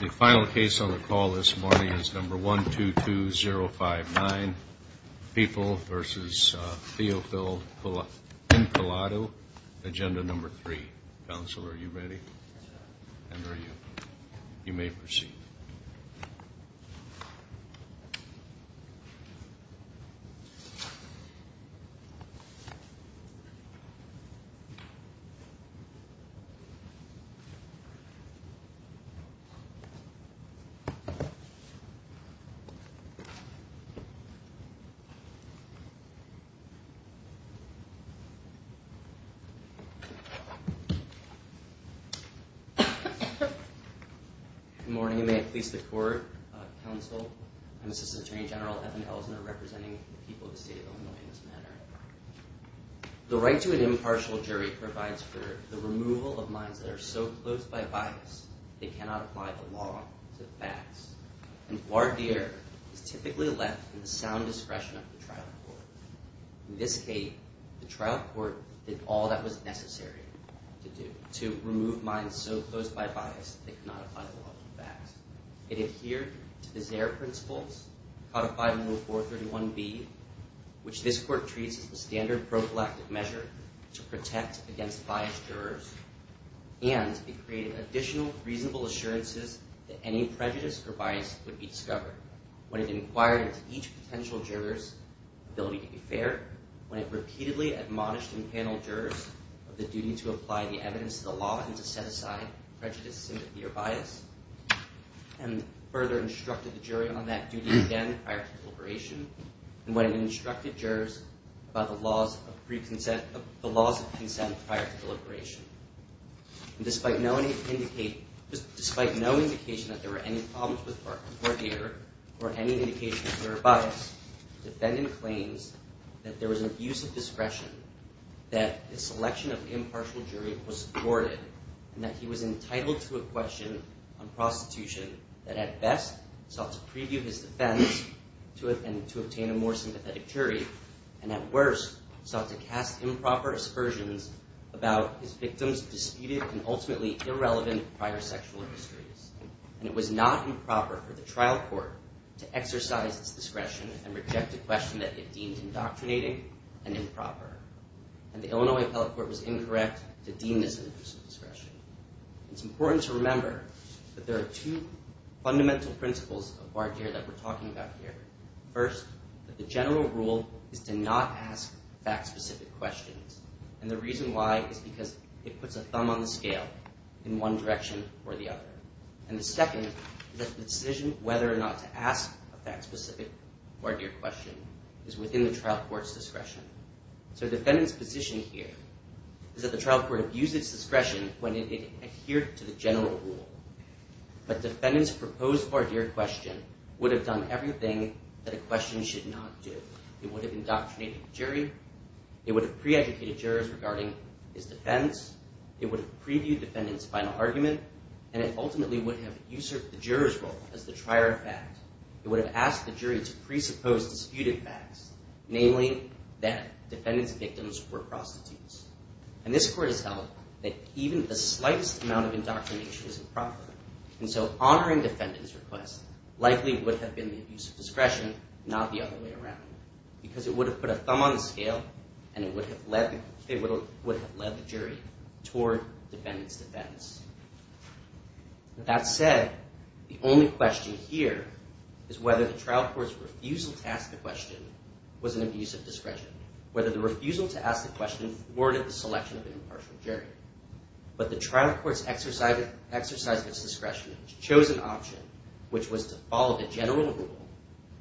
The final case on the call this morning is number 122059, People v. Theophil Encalado, Agenda Number 3. Counsel, are you ready? And are you? You may proceed. Good morning, and may it please the Court, Counsel, I'm Assistant Attorney General Evan Ellison, representing the people of the State of Illinois in this matter. The right to an impartial jury provides for the removal of minds that are so closed by bias they cannot apply the law to the facts. And guard the error is typically left in the sound discretion of the trial court. In this case, the trial court did all that was necessary to do to remove minds so closed by bias they cannot apply the law to the facts. It adhered to the Zare Principles, codified in Rule 431B, which this Court treats as the standard prophylactic measure to protect against biased jurors, and it created additional reasonable assurances that any prejudice or bias would be discovered when it inquired into each potential juror's ability to be fair, when it repeatedly admonished and paneled jurors of the duty to apply the evidence to the law and to set aside prejudice, sympathy, or bias, and further instructed the jury on that duty again prior to deliberation, and when it instructed jurors about the laws of consent prior to deliberation. Despite no indication that there were any problems with guard the error or any indication of juror bias, the defendant claims that there was an abuse of discretion, that the selection of impartial jury was thwarted, and that he was entitled to a question on prostitution that at best sought to preview his defense and to obtain a more sympathetic jury, and at worst sought to cast improper aspersions about his victim's disputed and ultimately irrelevant prior sexual histories. And it was not improper for the trial court to exercise its discretion and reject a question that it deemed indoctrinating and improper. And the Illinois Appellate Court was incorrect to deem this an abuse of discretion. It's important to remember that there are two fundamental principles of guard the error that we're talking about here. First, that the general rule is to not ask fact-specific questions, and the reason why is because it puts a thumb on the scale in one direction or the other. And the second is that the decision whether or not to ask a fact-specific guard the error question is within the trial court's discretion. So the defendant's position here is that the trial court abused its discretion when it adhered to the general rule. But the defendant's proposed guard the error question would have done everything that a question should not do. It would have indoctrinated the jury, it would have pre-educated jurors regarding his defense, it would have previewed the defendant's final argument, and it ultimately would have usurped the juror's role as the trier of fact. It would have asked the jury to presuppose disputed facts, namely that defendant's victims were prostitutes. And this court has held that even the slightest amount of indoctrination is improper. And so honoring defendant's request likely would have been the use of discretion, not the other way around, because it would have put a thumb on the scale and it would have led the jury toward defendant's defense. That said, the only question here is whether the trial court's refusal to ask the question was an abuse of discretion, whether the refusal to ask the question warranted the selection of an impartial jury. But the trial court's exercise of its discretion chose an option, which was to follow the general rule,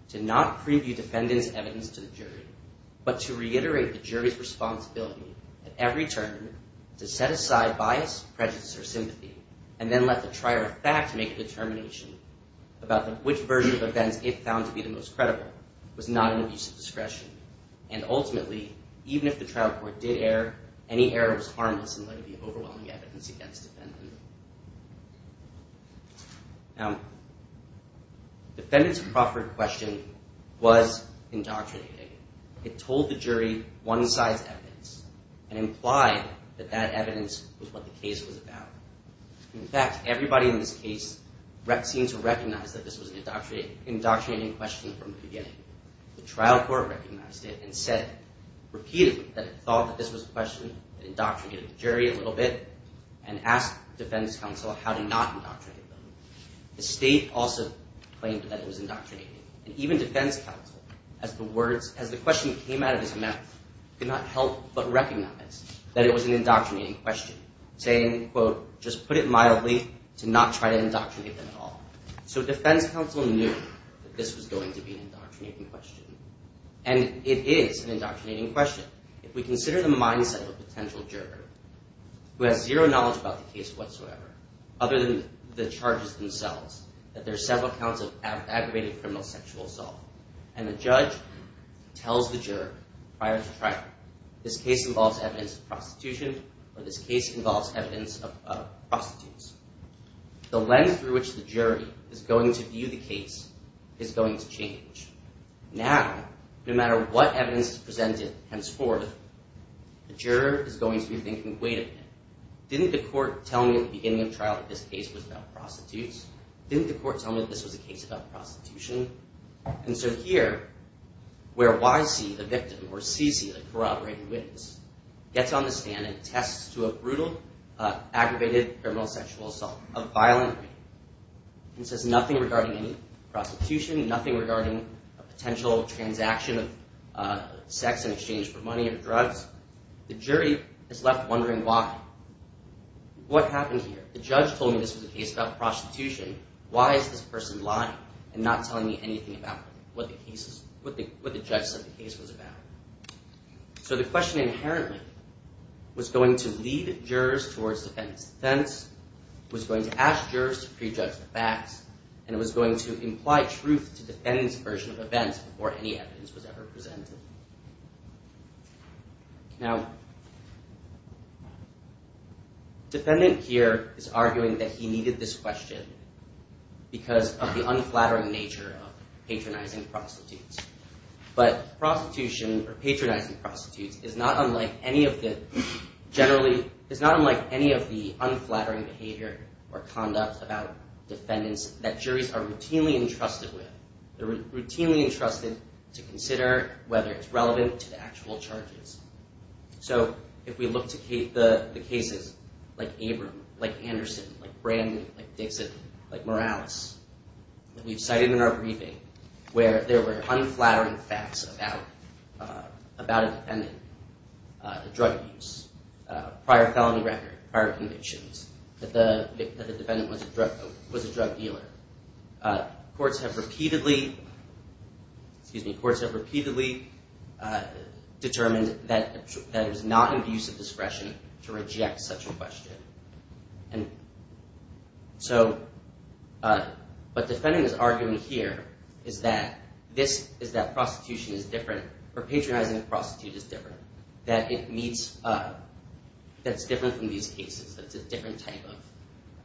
to not preview defendant's evidence to the jury, but to reiterate the jury's responsibility at every turn to set aside bias, prejudice, or sympathy, and then let the trier of fact make a determination about which version of events it found to be the most credible was not an abuse of discretion. And ultimately, even if the trial court did err, any error was harmless and likely overwhelming evidence against defendant. Now, defendant's Crawford question was indoctrinating. It told the jury one-size evidence and implied that that evidence was what the case was about. In fact, everybody in this case seemed to recognize that this was an indoctrinating question from the beginning. The trial court recognized it and said repeatedly that it thought that this was a question that indoctrinated the jury a little bit and asked defense counsel how to not indoctrinate them. The state also claimed that it was indoctrinating. And even defense counsel, as the question came out of his mouth, could not help but recognize that it was an indoctrinating question, saying, quote, just put it mildly to not try to indoctrinate them at all. So defense counsel knew that this was going to be an indoctrinating question. And it is an indoctrinating question. If we consider the mindset of a potential juror who has zero knowledge about the case whatsoever, other than the charges themselves, that there are several counts of aggravated criminal sexual assault, and the judge tells the juror prior to trial, this case involves evidence of prostitution, or this case involves evidence of prostitutes, the lens through which the jury is going to view the case is going to change. Now, no matter what evidence is presented henceforth, the juror is going to be thinking, wait a minute, didn't the court tell me at the beginning of trial that this case was about prostitutes? Didn't the court tell me that this was a case about prostitution? And so here, where Y.C., the victim, or C.C., the corroborated witness, gets on the stand and attests to a brutal, aggravated criminal sexual assault, a violent rape, and says nothing regarding any prostitution, nothing regarding a potential transaction of sex in exchange for money or drugs, the jury is left wondering why. What happened here? The judge told me this was a case about prostitution. Why is this person lying and not telling me anything about what the judge said the case was about? So the question inherently was going to lead jurors towards defendant's defense, was going to ask jurors to prejudge the facts, and it was going to imply truth to defendant's version of events before any evidence was ever presented. Now, defendant here is arguing that he needed this question because of the unflattering nature of patronizing prostitutes. But prostitution, or patronizing prostitutes, is not unlike any of the unflattering behavior or conduct about defendants that juries are routinely entrusted with. They're routinely entrusted to consider whether it's relevant to the actual charges. So if we look to the cases like Abram, like Anderson, like Brand, like Dixit, like Morales, that we've cited in our briefing where there were unflattering facts about a defendant, the drug use, prior felony record, prior convictions, that the defendant was a drug dealer, courts have repeatedly determined that it was not in the use of discretion to reject such a question. What defendant is arguing here is that prostitution is different, or patronizing a prostitute is different, that it's different from these cases, that it's a different type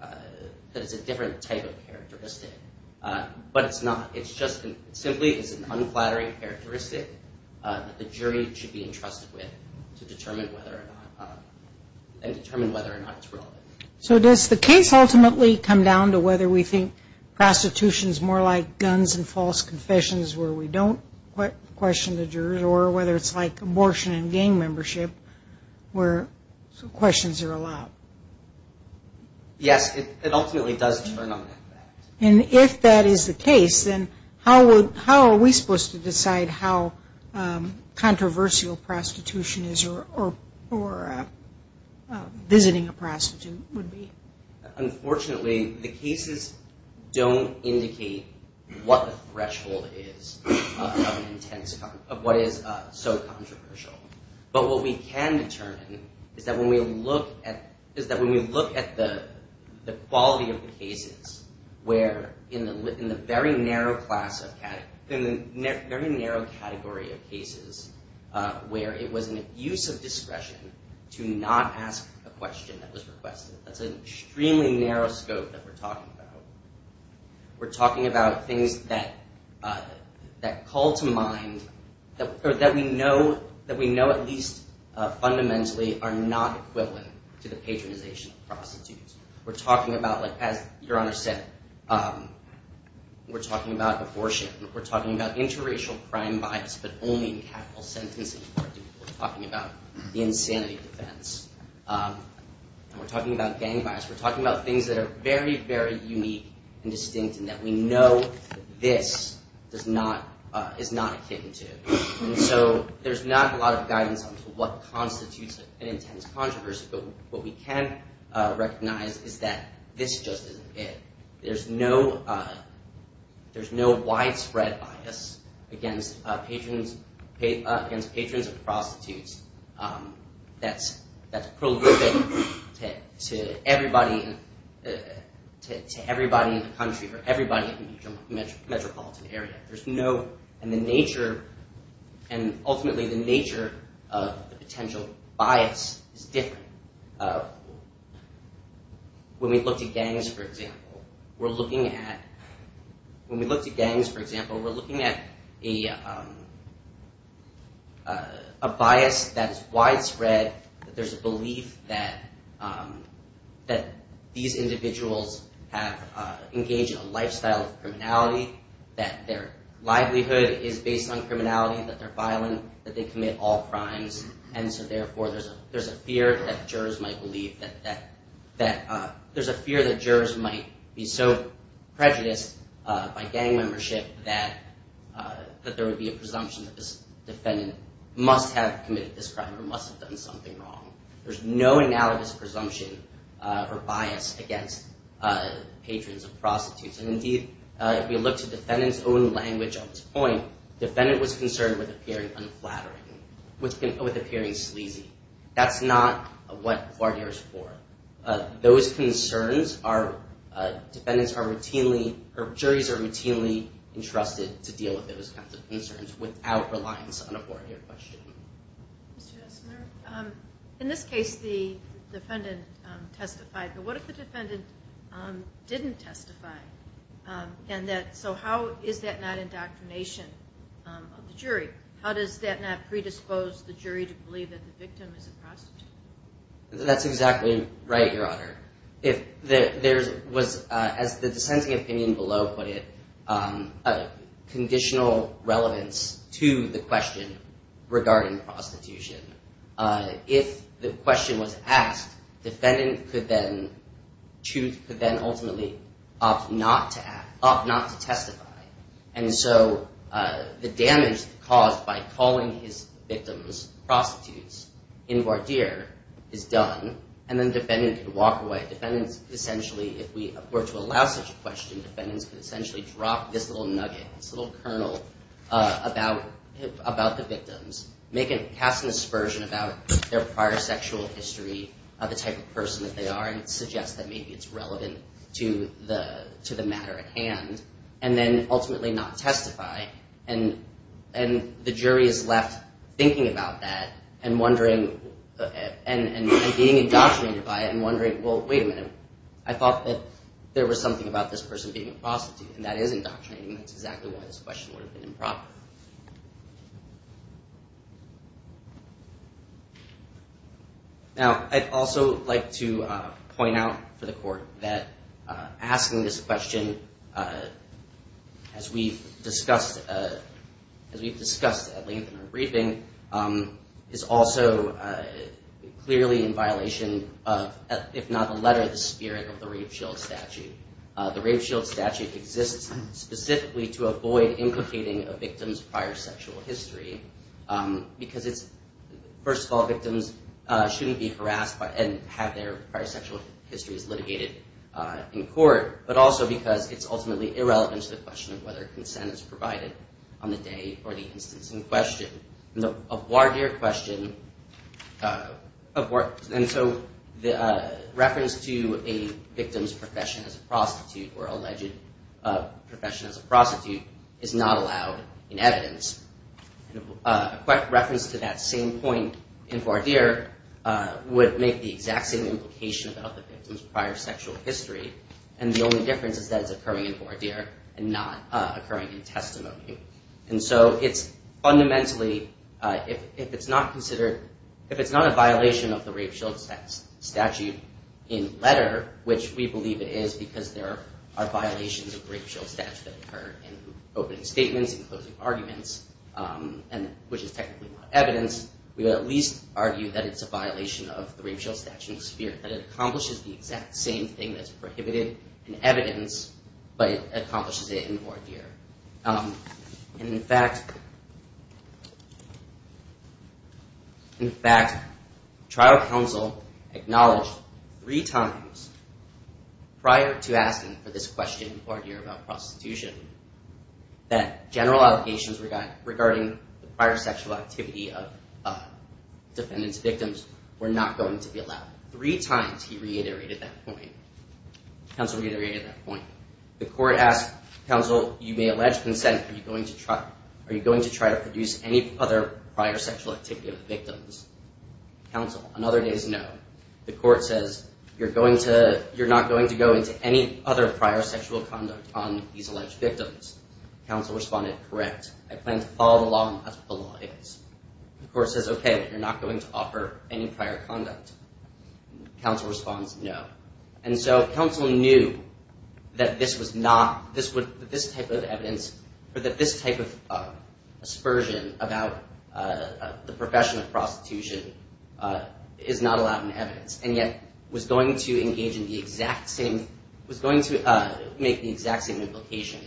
of characteristic. But it's not. It simply is an unflattering characteristic that the jury should be entrusted with to determine whether or not it's relevant. So does the case ultimately come down to whether we think prostitution is more like guns and false confessions where we don't question the jurors, or whether it's like abortion and gang membership where questions are allowed? Yes, it ultimately does turn on that. And if that is the case, then how are we supposed to decide how controversial prostitution is or visiting a prostitute would be? Unfortunately, the cases don't indicate what the threshold is of what is so controversial. But what we can determine is that when we look at the quality of the cases where in the very narrow category of cases where it was an abuse of discretion to not ask a question that was requested. That's an extremely narrow scope that we're talking about. We're talking about things that call to mind, or that we know at least fundamentally are not equivalent to the patronization of prostitutes. We're talking about, as Your Honor said, we're talking about abortion. We're talking about interracial crime bias, but only in capital sentences. We're talking about the insanity defense. We're talking about gang bias. We're talking about things that are very, very unique and distinct and that we know this is not akin to. And so there's not a lot of guidance on what constitutes an intense controversy, but what we can recognize is that this just isn't it. There's no widespread bias against patrons of prostitutes. That's progrouped to everybody in the country or everybody in the metropolitan area. There's no, and the nature, and ultimately the nature of the potential bias is different. When we look to gangs, for example, we're looking at a bias that's widespread. There's a belief that these individuals have engaged in a lifestyle of criminality, that their livelihood is based on criminality, that they're violent, that they commit all crimes. And so, therefore, there's a fear that jurors might believe that, there's a fear that jurors might be so prejudiced by gang membership that there would be a presumption that this defendant must have committed this crime or must have done something wrong. There's no analogous presumption or bias against patrons of prostitutes. And, indeed, if we look to defendant's own language at this point, defendant was concerned with appearing unflattering, with appearing sleazy. That's not what a four-year is for. Those concerns are, defendants are routinely, or juries are routinely entrusted to deal with those kinds of concerns without reliance on a four-year question. Ms. Jesmer, in this case, the defendant testified. But what if the defendant didn't testify? So how is that not indoctrination of the jury? How does that not predispose the jury to believe that the victim is a prostitute? That's exactly right, Your Honor. As the dissenting opinion below put it, conditional relevance to the question regarding prostitution. If the question was asked, defendant could then ultimately opt not to act, opt not to testify. And so the damage caused by calling his victims prostitutes in voir dire is done, and then defendant could walk away. Defendants essentially, if we were to allow such a question, defendants could essentially drop this little nugget, this little kernel about the victims, make a, cast an aspersion about their prior sexual history, the type of person that they are, and suggest that maybe it's relevant to the matter at hand, and then ultimately not testify. And the jury is left thinking about that and wondering, and being indoctrinated by it and wondering, well, wait a minute. I thought that there was something about this person being a prostitute, and that is indoctrinating. That's exactly why this question would have been improper. Now, I'd also like to point out for the Court that asking this question, as we've discussed at length in our briefing, is also clearly in violation of, if not the letter, the spirit of the rape shield statute. The rape shield statute exists specifically to avoid implicating a victim's prior sexual history, because it's, first of all, victims shouldn't be harassed and have their prior sexual histories litigated in court, but also because it's ultimately irrelevant to the question of whether consent is provided on the day or the instance in question. And so the reference to a victim's profession as a prostitute or alleged profession as a prostitute is not allowed in evidence. A reference to that same point in voir dire would make the exact same implication about the victim's prior sexual history, and the only difference is that it's occurring in voir dire and not occurring in testimony. And so it's fundamentally, if it's not considered, if it's not a violation of the rape shield statute in letter, which we believe it is because there are violations of the rape shield statute that occur in opening statements and closing arguments, which is technically not evidence, we would at least argue that it's a violation of the rape shield statute in spirit, that it accomplishes the exact same thing that's prohibited in evidence, but it accomplishes it in voir dire. And in fact, trial counsel acknowledged three times prior to asking for this question in voir dire about prostitution that general obligations regarding the prior sexual activity of defendant's victims were not going to be allowed. Three times he reiterated that point. Counsel reiterated that point. The court asked counsel, you may allege consent, are you going to try to produce any other prior sexual activity of the victims? Counsel, on other days, no. The court says, you're not going to go into any other prior sexual conduct on these alleged victims. Counsel responded, correct. I plan to follow the law, and that's what the law is. The court says, okay, you're not going to offer any prior conduct. Counsel responds, no. And so counsel knew that this type of evidence, or that this type of aspersion about the profession of prostitution is not allowed in evidence, and yet was going to make the exact same implication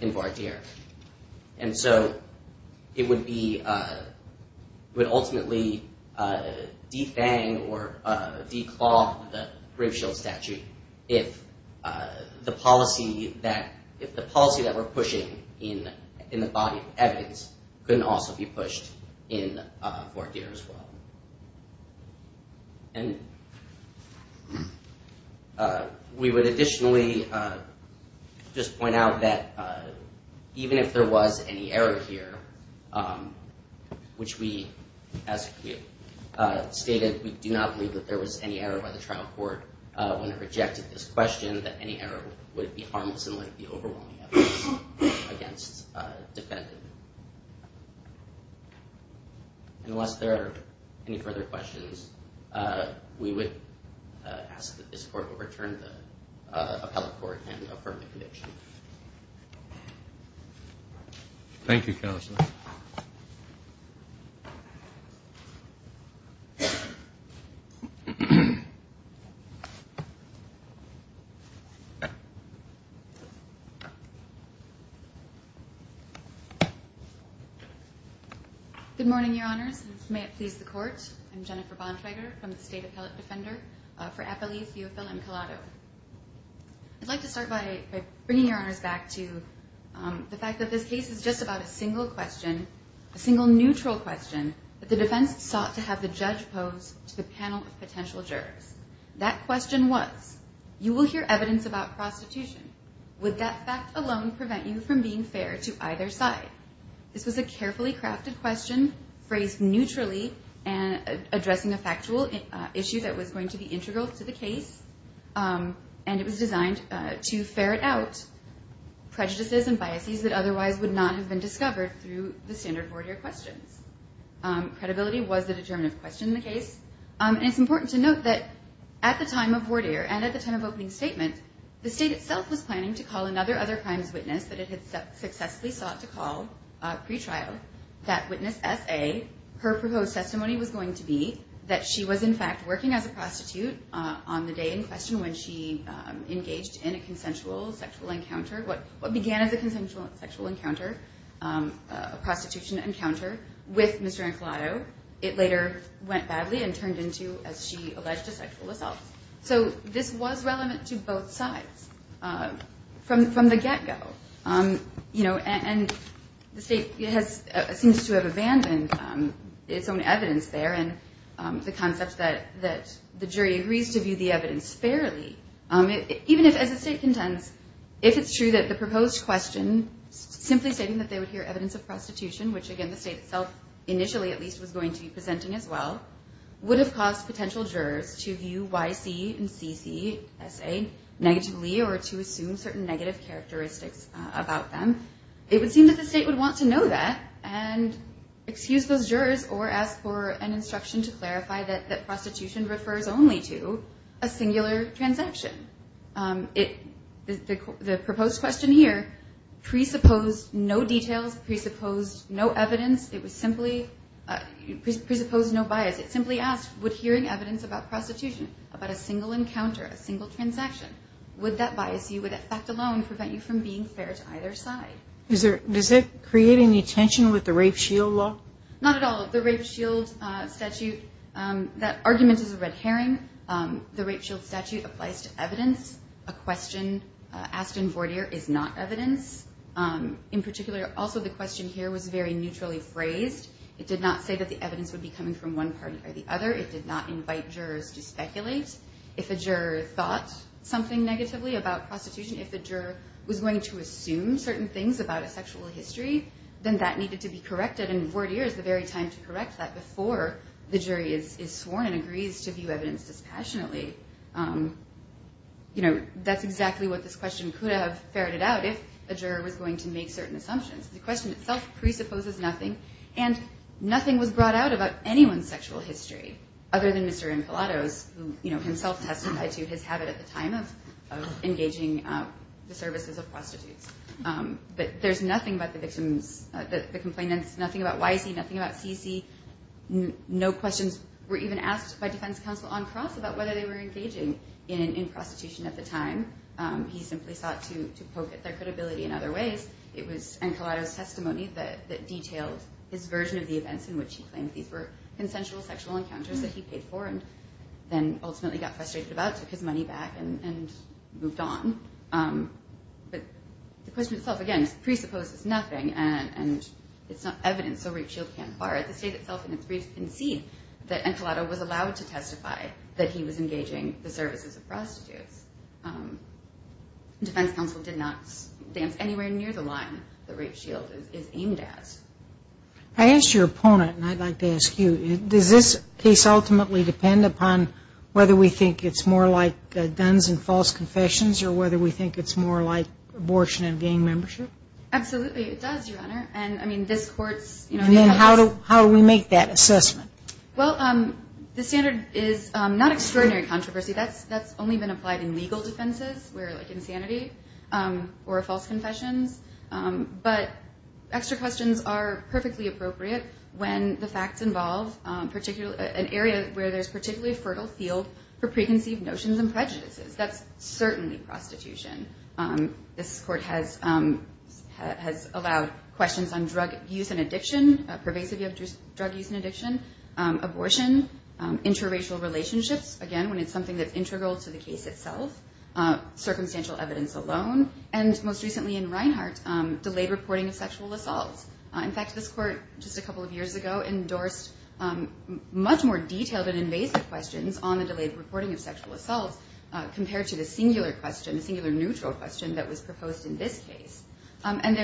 in voir dire. And so it would ultimately defang or declaw the Grimschild statute if the policy that we're pushing in the body of evidence couldn't also be pushed in voir dire as well. And we would additionally just point out that even if there was any error here, which we, as a group, stated, we do not believe that there was any error by the trial court when it rejected this question, that any error would be harmless in light of the overwhelming evidence against the defendant. Unless there are any further questions, we would ask that this court overturn the appellate court and affirm the conviction. Thank you, counsel. Good morning, Your Honors, and may it please the court. I'm Jennifer Bontrager from the State Appellate Defender for Appalief, UofL, and Colado. I'd like to start by bringing Your Honors back to the fact that this case is just about a single question, a single neutral question that the defense sought to have the judge pose to the panel of potential jurors. That question was, you will hear evidence about prostitution. Would that fact alone prevent you from being fair to either side? This was a carefully crafted question phrased neutrally, addressing a factual issue that was going to be integral to the case, and it was designed to ferret out prejudices and biases that otherwise would not have been discovered through the standard voir dire questions. Credibility was the determinative question in the case, and it's important to note that at the time of voir dire and at the time of opening statement, the state itself was planning to call another other crimes witness that it had successfully sought to call pretrial. That witness, S.A., her proposed testimony was going to be that she was, in fact, working as a prostitute on the day in question when she engaged in a consensual sexual encounter. What began as a consensual sexual encounter, a prostitution encounter with Mr. Ancolato, it later went badly and turned into, as she alleged, a sexual assault. So this was relevant to both sides from the get-go, and the state seems to have abandoned its own evidence there, and the concept that the jury agrees to view the evidence fairly. Even if, as the state contends, if it's true that the proposed question, simply stating that they would hear evidence of prostitution, which again the state itself initially at least was going to be presenting as well, would have caused potential jurors to view Y.C. and C.C., S.A., negatively or to assume certain negative characteristics about them, it would seem that the state would want to know that and excuse those jurors or ask for an instruction to clarify that prostitution refers only to a singular transaction. The proposed question here presupposed no details, presupposed no evidence. It was simply, presupposed no bias. It simply asked, would hearing evidence about prostitution, about a single encounter, a single transaction, would that bias you, would that fact alone, prevent you from being fair to either side? Does that create any tension with the rape shield law? Not at all. The rape shield statute, that argument is a red herring. The rape shield statute applies to evidence. A question asked in Vordier is not evidence. In particular, also the question here was very neutrally phrased. It did not say that the evidence would be coming from one party or the other. It did not invite jurors to speculate. If a juror thought something negatively about prostitution, if a juror was going to assume certain things about a sexual history, then that needed to be corrected, and Vordier is the very time to correct that before the jury is sworn and agrees to view evidence dispassionately. That's exactly what this question could have ferreted out if a juror was going to make certain assumptions. The question itself presupposes nothing, and nothing was brought out about anyone's sexual history, other than Mr. Infilatos, who himself testified to his habit at the time of engaging the services of prostitutes. But there's nothing about the victims, the complainants, nothing about YC, nothing about CC. No questions were even asked by defense counsel on cross about whether they were engaging in prostitution at the time. He simply sought to poke at their credibility in other ways. It was Infilatos' testimony that detailed his version of the events in which he claimed these were consensual sexual encounters that he paid for and then ultimately got frustrated about, took his money back, and moved on. But the question itself, again, presupposes nothing, and it's not evidence, so rape shield can't fire. The state itself in its brief concede that Infilatos was allowed to testify that he was engaging the services of prostitutes. Defense counsel did not dance anywhere near the line that rape shield is aimed at. I asked your opponent, and I'd like to ask you, does this case ultimately depend upon whether we think it's more like guns and false confessions or whether we think it's more like abortion and gang membership? Absolutely, it does, Your Honor. And, I mean, this court's... And then how do we make that assessment? Well, the standard is not extraordinary controversy. That's only been applied in legal defenses where, like, insanity or false confessions. But extra questions are perfectly appropriate when the facts involve an area where there's particularly fertile field for preconceived notions and prejudices. That's certainly prostitution. This court has allowed questions on drug use and addiction, pervasive drug use and addiction, abortion, interracial relationships, again, when it's something that's integral to the case itself, circumstantial evidence alone, and most recently in Reinhart, delayed reporting of sexual assaults. In fact, this court just a couple of years ago endorsed much more detailed and invasive questions on the delayed reporting of sexual assaults compared to the singular question, the singular neutral question, that was proposed in this case. And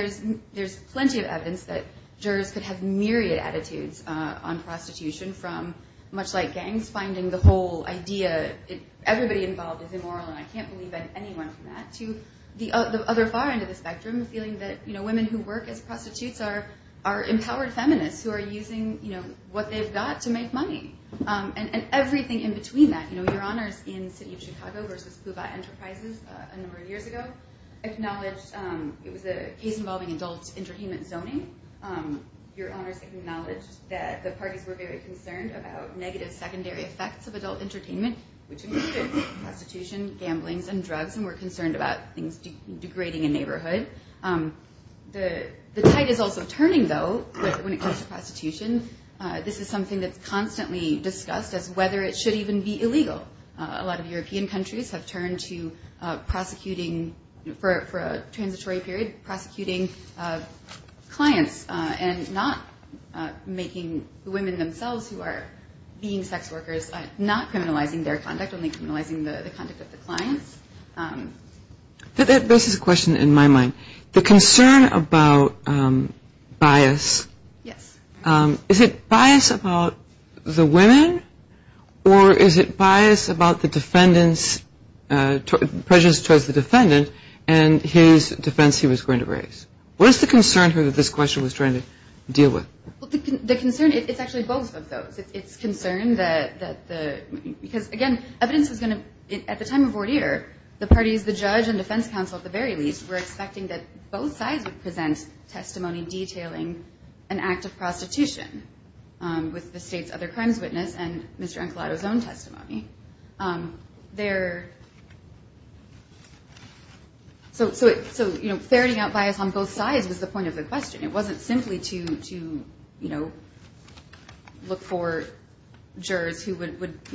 there's plenty of evidence that jurors could have myriad attitudes on prostitution from, much like gangs, finding the whole idea, everybody involved is immoral and I can't believe anyone from that, to the other far end of the spectrum feeling that women who work as prostitutes are empowered feminists who are using, you know, what they've got to make money. And everything in between that, you know, it was a case involving adult entertainment zoning. Your Honors acknowledged that the parties were very concerned about negative secondary effects of adult entertainment, which included prostitution, gamblings, and drugs, and were concerned about things degrading a neighborhood. The tide is also turning, though, when it comes to prostitution. This is something that's constantly discussed as whether it should even be illegal. A lot of European countries have turned to prosecuting for a transitory period, prosecuting clients, and not making the women themselves who are being sex workers, not criminalizing their conduct, only criminalizing the conduct of the clients. This is a question in my mind. The concern about bias, is it bias about the women, or is it bias about the defendant's, prejudice towards the defendant and his defense he was going to raise? What is the concern here that this question was trying to deal with? Well, the concern, it's actually both of those. It's concern that the, because, again, evidence was going to, at the time of Wardeer, the parties, the judge and defense counsel, at the very least, were expecting that both sides would present testimony detailing an act of prostitution with the state's other crimes witness and Mr. Ancolato's own testimony. So ferreting out bias on both sides was the point of the question. It wasn't simply to look for jurors who would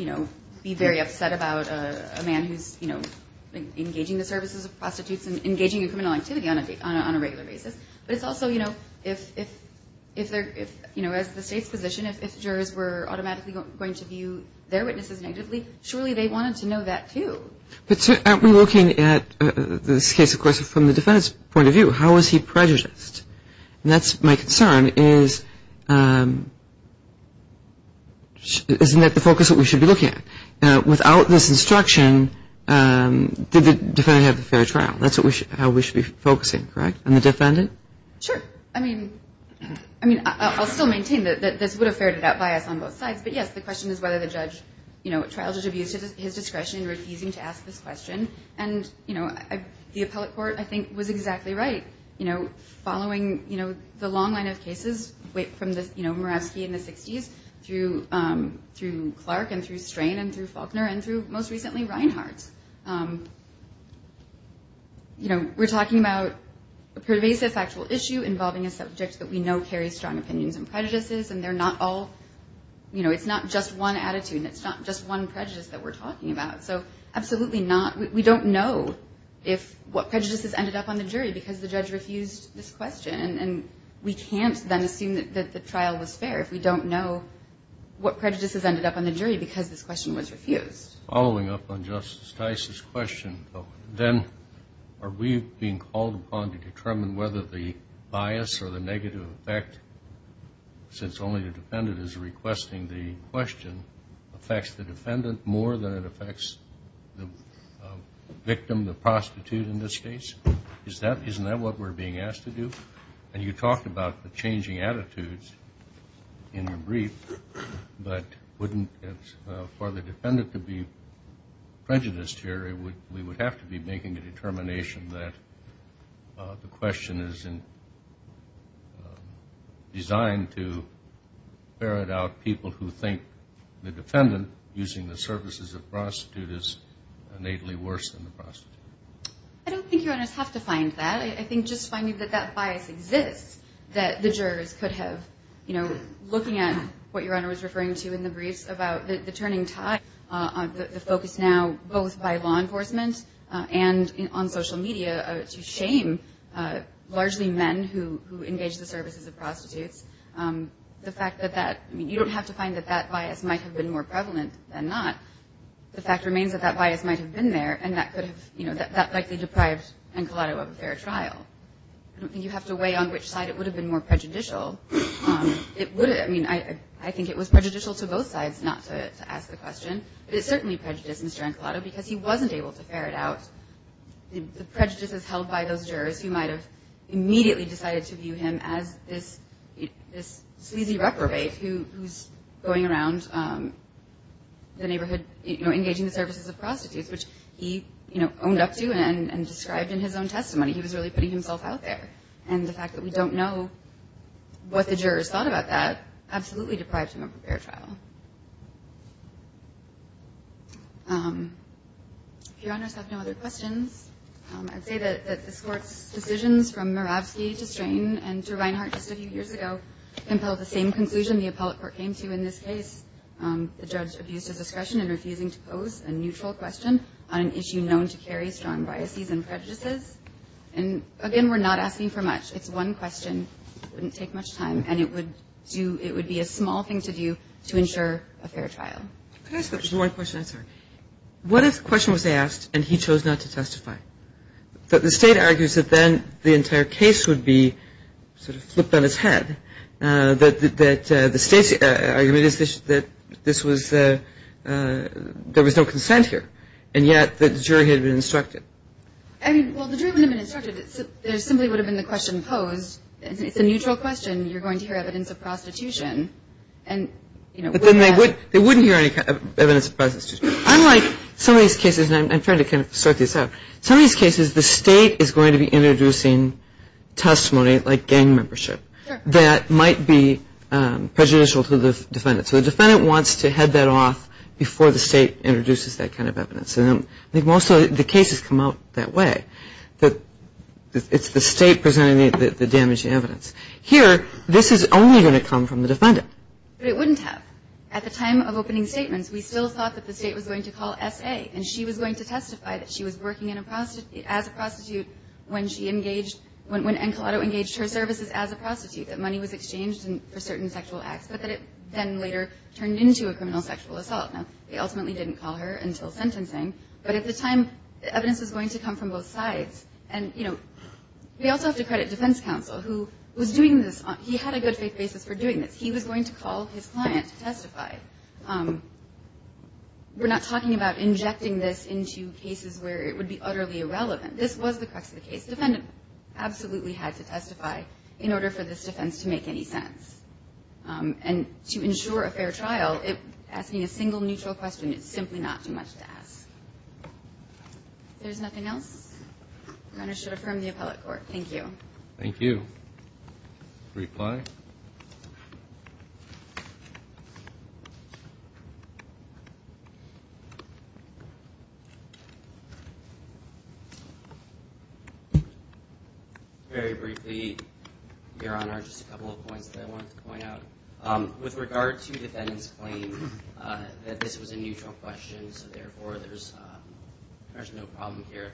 be very upset about a man who's engaging the services of prostitutes and engaging in criminal activity on a regular basis. But it's also, as the state's position, if jurors were automatically going to view their witnesses negatively, surely they wanted to know that, too. But aren't we looking at this case, of course, from the defendant's point of view? How is he prejudiced? And that's my concern is, isn't that the focus that we should be looking at? Without this instruction, did the defendant have a fair trial? That's how we should be focusing, correct? And the defendant? Sure. I mean, I'll still maintain that this would have ferreted out bias on both sides. But, yes, the question is whether the judge trials his discretion in refusing to ask this question. And the appellate court, I think, was exactly right. Following the long line of cases from Murawski in the 60s through Clark and through Strain and through Faulkner and through, most recently, Reinhart. You know, we're talking about a pervasive factual issue involving a subject that we know carries strong opinions and prejudices. And they're not all, you know, it's not just one attitude. It's not just one prejudice that we're talking about. So absolutely not, we don't know if what prejudices ended up on the jury because the judge refused this question. And we can't then assume that the trial was fair if we don't know what prejudices ended up on the jury because this question was refused. Following up on Justice Tice's question, then are we being called upon to determine whether the bias or the negative effect, since only the defendant is requesting the question, affects the defendant more than it affects the victim, the prostitute, in this case? Isn't that what we're being asked to do? And you talked about the changing attitudes in your brief, but wouldn't it, for the defendant to be prejudiced here, we would have to be making a determination that the question is designed to ferret out people who think the defendant using the services of prostitutes is innately worse than the prostitute. I don't think you're going to have to find that. I think just finding that that bias exists that the jurors could have, looking at what Your Honor was referring to in the briefs about the turning tide, the focus now, both by law enforcement and on social media, to shame largely men who engage the services of prostitutes. The fact that that, I mean, you don't have to find that that bias might have been more prevalent than not. The fact remains that that bias might have been there and that could have, that likely deprived Encolado of a fair trial. I don't think you have to weigh on which side it would have been more prejudicial. It would have, I mean, I think it was prejudicial to both sides, not to ask the question, but it certainly prejudiced Mr. Encolado because he wasn't able to ferret out the prejudices held by those jurors who might have immediately decided to view him as this sleazy reprobate who's going around the neighborhood engaging the services of prostitutes, which he owned up to and described in his own testimony. He was really putting himself out there. And the fact that we don't know what the jurors thought about that absolutely deprived him of a fair trial. If Your Honors have no other questions, I'd say that this Court's decisions from Muravsky to Strain and to Reinhart just a few years ago compelled the same conclusion the appellate court came to in this case. The judge abused his discretion in refusing to pose a neutral question on an issue known to carry strong biases and prejudices. And again, we're not asking for much. It's one question. It wouldn't take much time. And it would do, it would be a small thing to do to ensure a fair trial. Can I ask one question? I'm sorry. What if the question was asked and he chose not to testify? But the State argues that then the entire case would be sort of flipped on its head, that the State's argument is that this was, there was no consent here. And yet the jury had been instructed. I mean, well, the jury wouldn't have been instructed. There simply would have been the question posed. It's a neutral question. You're going to hear evidence of prostitution. But then they wouldn't hear any evidence of prostitution. Unlike some of these cases, and I'm trying to kind of sort these out, some of these cases the State is going to be introducing testimony like gang membership that might be prejudicial to the defendant. So the defendant wants to head that off before the State introduces that kind of evidence. And I think most of the cases come out that way, that it's the State presenting the damaging evidence. Here, this is only going to come from the defendant. But it wouldn't have. At the time of opening statements, we still thought that the State was going to call S.A., and she was going to testify that she was working as a prostitute when she engaged, when Encolado engaged her services as a prostitute, that money was exchanged for certain sexual acts, but that it then later turned into a criminal sexual assault. Now, they ultimately didn't call her until sentencing. But at the time, the evidence was going to come from both sides. And, you know, we also have to credit defense counsel, who was doing this. He had a good faith basis for doing this. He was going to call his client to testify. We're not talking about injecting this into cases where it would be utterly irrelevant. This was the crux of the case. The defendant absolutely had to testify in order for this defense to make any sense. And to ensure a fair trial, asking a single neutral question, it's simply not too much to ask. If there's nothing else, Your Honor, I should affirm the appellate court. Thank you. Thank you. Reply. Very briefly, Your Honor, just a couple of points that I wanted to point out. With regard to the defendant's claim that this was a neutral question, so, therefore, there's no problem here.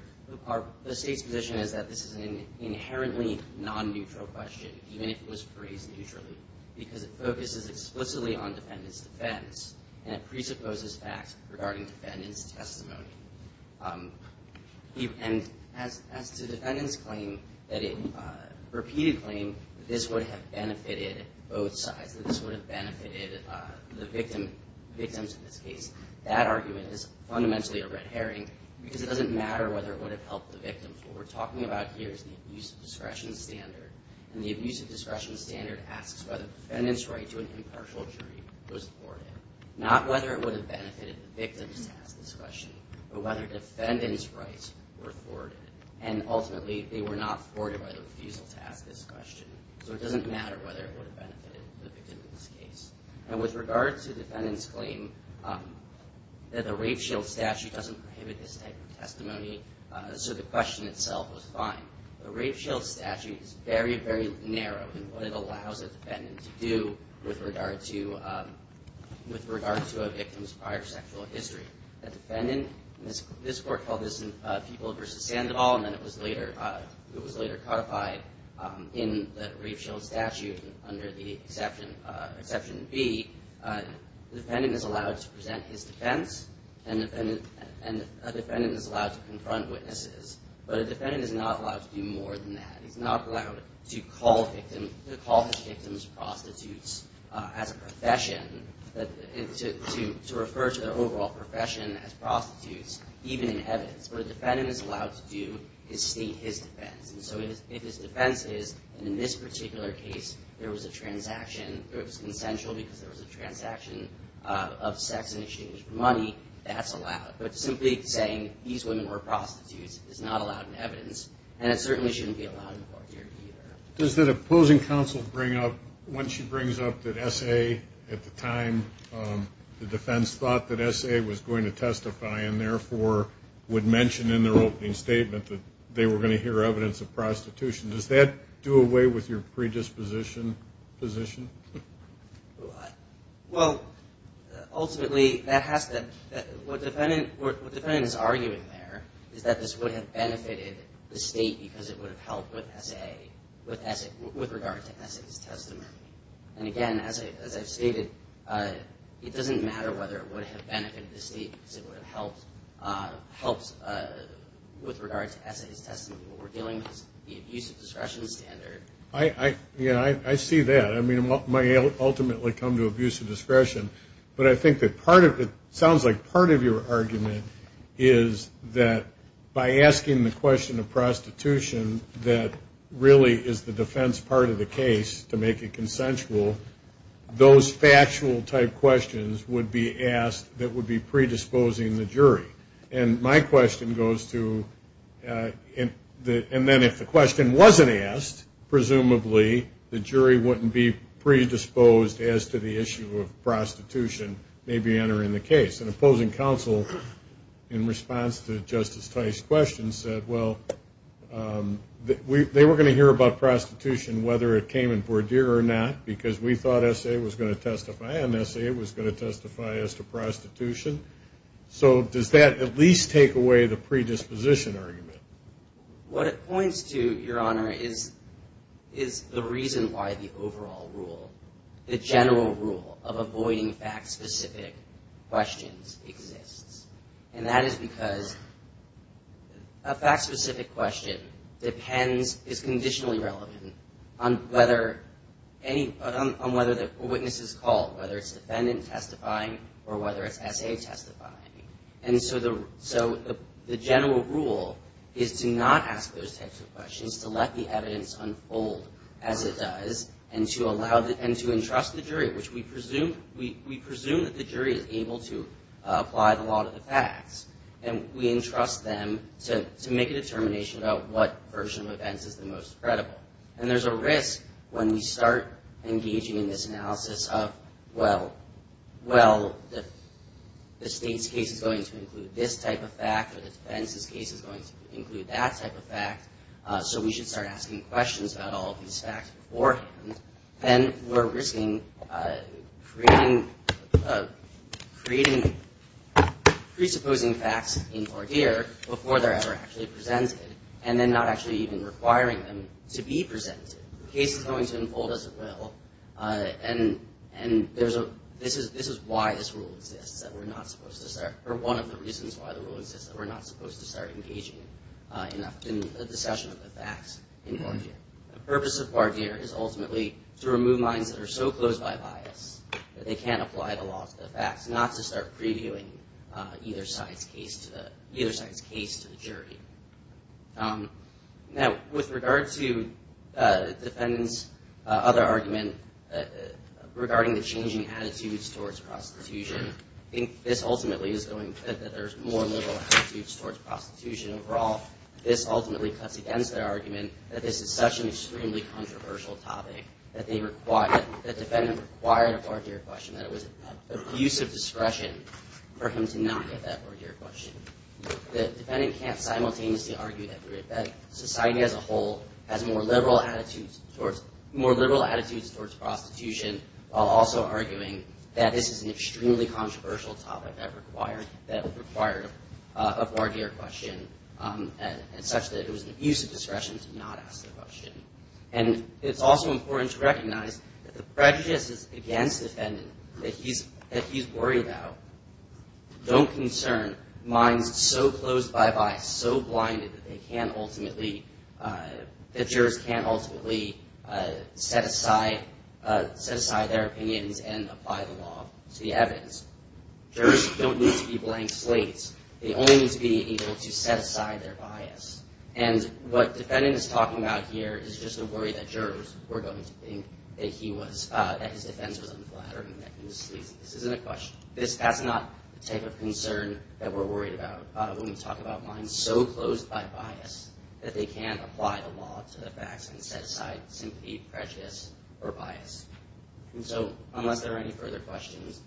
The state's position is that this is an inherently non-neutral question, even if it was phrased neutrally, because it focuses explicitly on defendant's defense, and it presupposes facts regarding defendant's testimony. And as to the defendant's claim that it, repeated claim, that this would have benefited both sides, that this would have benefited the victims in this case, that argument is fundamentally a red herring, because it doesn't matter whether it would have helped the victims. What we're talking about here is the abuse of discretion standard. And the abuse of discretion standard asks whether the defendant's right to an impartial jury was thwarted, not whether it would have benefited the victims to ask this question, but whether defendant's rights were thwarted. And, ultimately, they were not thwarted by the refusal to ask this question. So it doesn't matter whether it would have benefited the victim in this case. And with regard to the defendant's claim that the rape shield statute doesn't prohibit this type of testimony, so the question itself was fine. The rape shield statute is very, very narrow in what it allows a defendant to do with regard to a victim's prior sexual history. A defendant, and this court called this People v. Sandoval, and then it was later codified in the rape shield statute under the Exception B. The defendant is allowed to present his defense, and a defendant is allowed to confront witnesses. But a defendant is not allowed to do more than that. He's not allowed to call his victims prostitutes as a profession, to refer to their overall profession as prostitutes, even in evidence. What a defendant is allowed to do is state his defense. And so if his defense is, in this particular case, there was a transaction, it was consensual because there was a transaction of sex in exchange for money, that's allowed. But simply saying these women were prostitutes is not allowed in evidence, and it certainly shouldn't be allowed in court here either. Does the opposing counsel bring up, when she brings up that S.A. at the time, the defense thought that S.A. was going to testify and therefore would mention in their opening statement that they were going to hear evidence of prostitution, does that do away with your predisposition position? Well, ultimately, what the defendant is arguing there is that this would have benefited the state because it would have helped with regard to S.A.'s testimony. And again, as I've stated, it doesn't matter whether it would have benefited the state because it would have helped with regard to S.A.'s testimony. What we're dealing with is the abuse of discretion standard. Yeah, I see that. I mean, it might ultimately come to abuse of discretion, but I think that part of it sounds like part of your argument is that by asking the question of prostitution that really is the defense part of the case to make it consensual, those factual type questions would be asked that would be predisposing the jury. And my question goes to, and then if the question wasn't asked, presumably the jury wouldn't be predisposed as to the issue of prostitution may be entering the case. An opposing counsel in response to Justice Tice's question said, well, they were going to hear about prostitution whether it came in Bordier or not because we thought S.A. was going to testify and S.A. was going to testify as to prostitution. So does that at least take away the predisposition argument? What it points to, Your Honor, is the reason why the overall rule, the general rule of avoiding fact-specific questions exists. And that is because a fact-specific question depends, is conditionally relevant on whether a witness is called, whether it's defendant testifying or whether it's S.A. testifying. And so the general rule is to not ask those types of questions, to let the evidence unfold as it does, and to entrust the jury, which we presume that the jury is able to apply the law to the facts. And we entrust them to make a determination about what version of events is the most credible. And there's a risk when we start engaging in this analysis of, well, the state's case is going to include this type of fact or the defense's case is going to include that type of fact, so we should start asking questions about all of these facts beforehand. Then we're risking creating presupposing facts in Bordier before they're ever actually presented and then not actually even requiring them to be presented. The case is going to unfold as it will, and this is why this rule exists, that we're not supposed to start, or one of the reasons why the rule exists, that we're not supposed to start engaging enough in the discussion of the facts in Bordier. The purpose of Bordier is ultimately to remove lines that are so closed by bias that they can't apply the law to the facts, not to start previewing either side's case to the jury. Now, with regard to the defendant's other argument regarding the changing attitudes towards prostitution, I think this ultimately is going to, that there's more liberal attitudes towards prostitution overall. This ultimately cuts against their argument that this is such an extremely controversial topic that they require, that the defendant required a Bordier question, that it was an abuse of discretion for him to not get that Bordier question. The defendant can't simultaneously argue that society as a whole has more liberal attitudes towards prostitution while also arguing that this is an extremely controversial topic that required a Bordier question and such that it was an abuse of discretion to not ask the question. And it's also important to recognize that the prejudices against the defendant that he's worried about don't concern minds so closed by bias, so blinded that they can't ultimately, that jurors can't ultimately set aside their opinions and apply the law to the evidence. Jurors don't need to be blank slates. They only need to be able to set aside their bias. And what defendant is talking about here is just a worry that jurors were going to think that he was, that his defense was unflattering, that he was sleazy. This isn't a question. That's not the type of concern that we're worried about when we talk about minds so closed by bias that they can't apply the law to the facts and set aside sympathy, prejudice, or bias. So unless there are any further questions,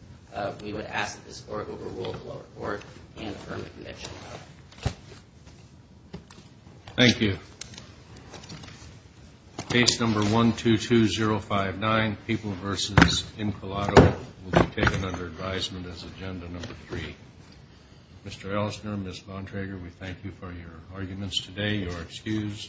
we would ask that this Court overrule the lower court and affirm the conviction. Thank you. Case number 122059, People v. Incolato, will be taken under advisement as agenda number three. Mr. Ellsner, Ms. Bontrager, we thank you for your arguments today. You are excused.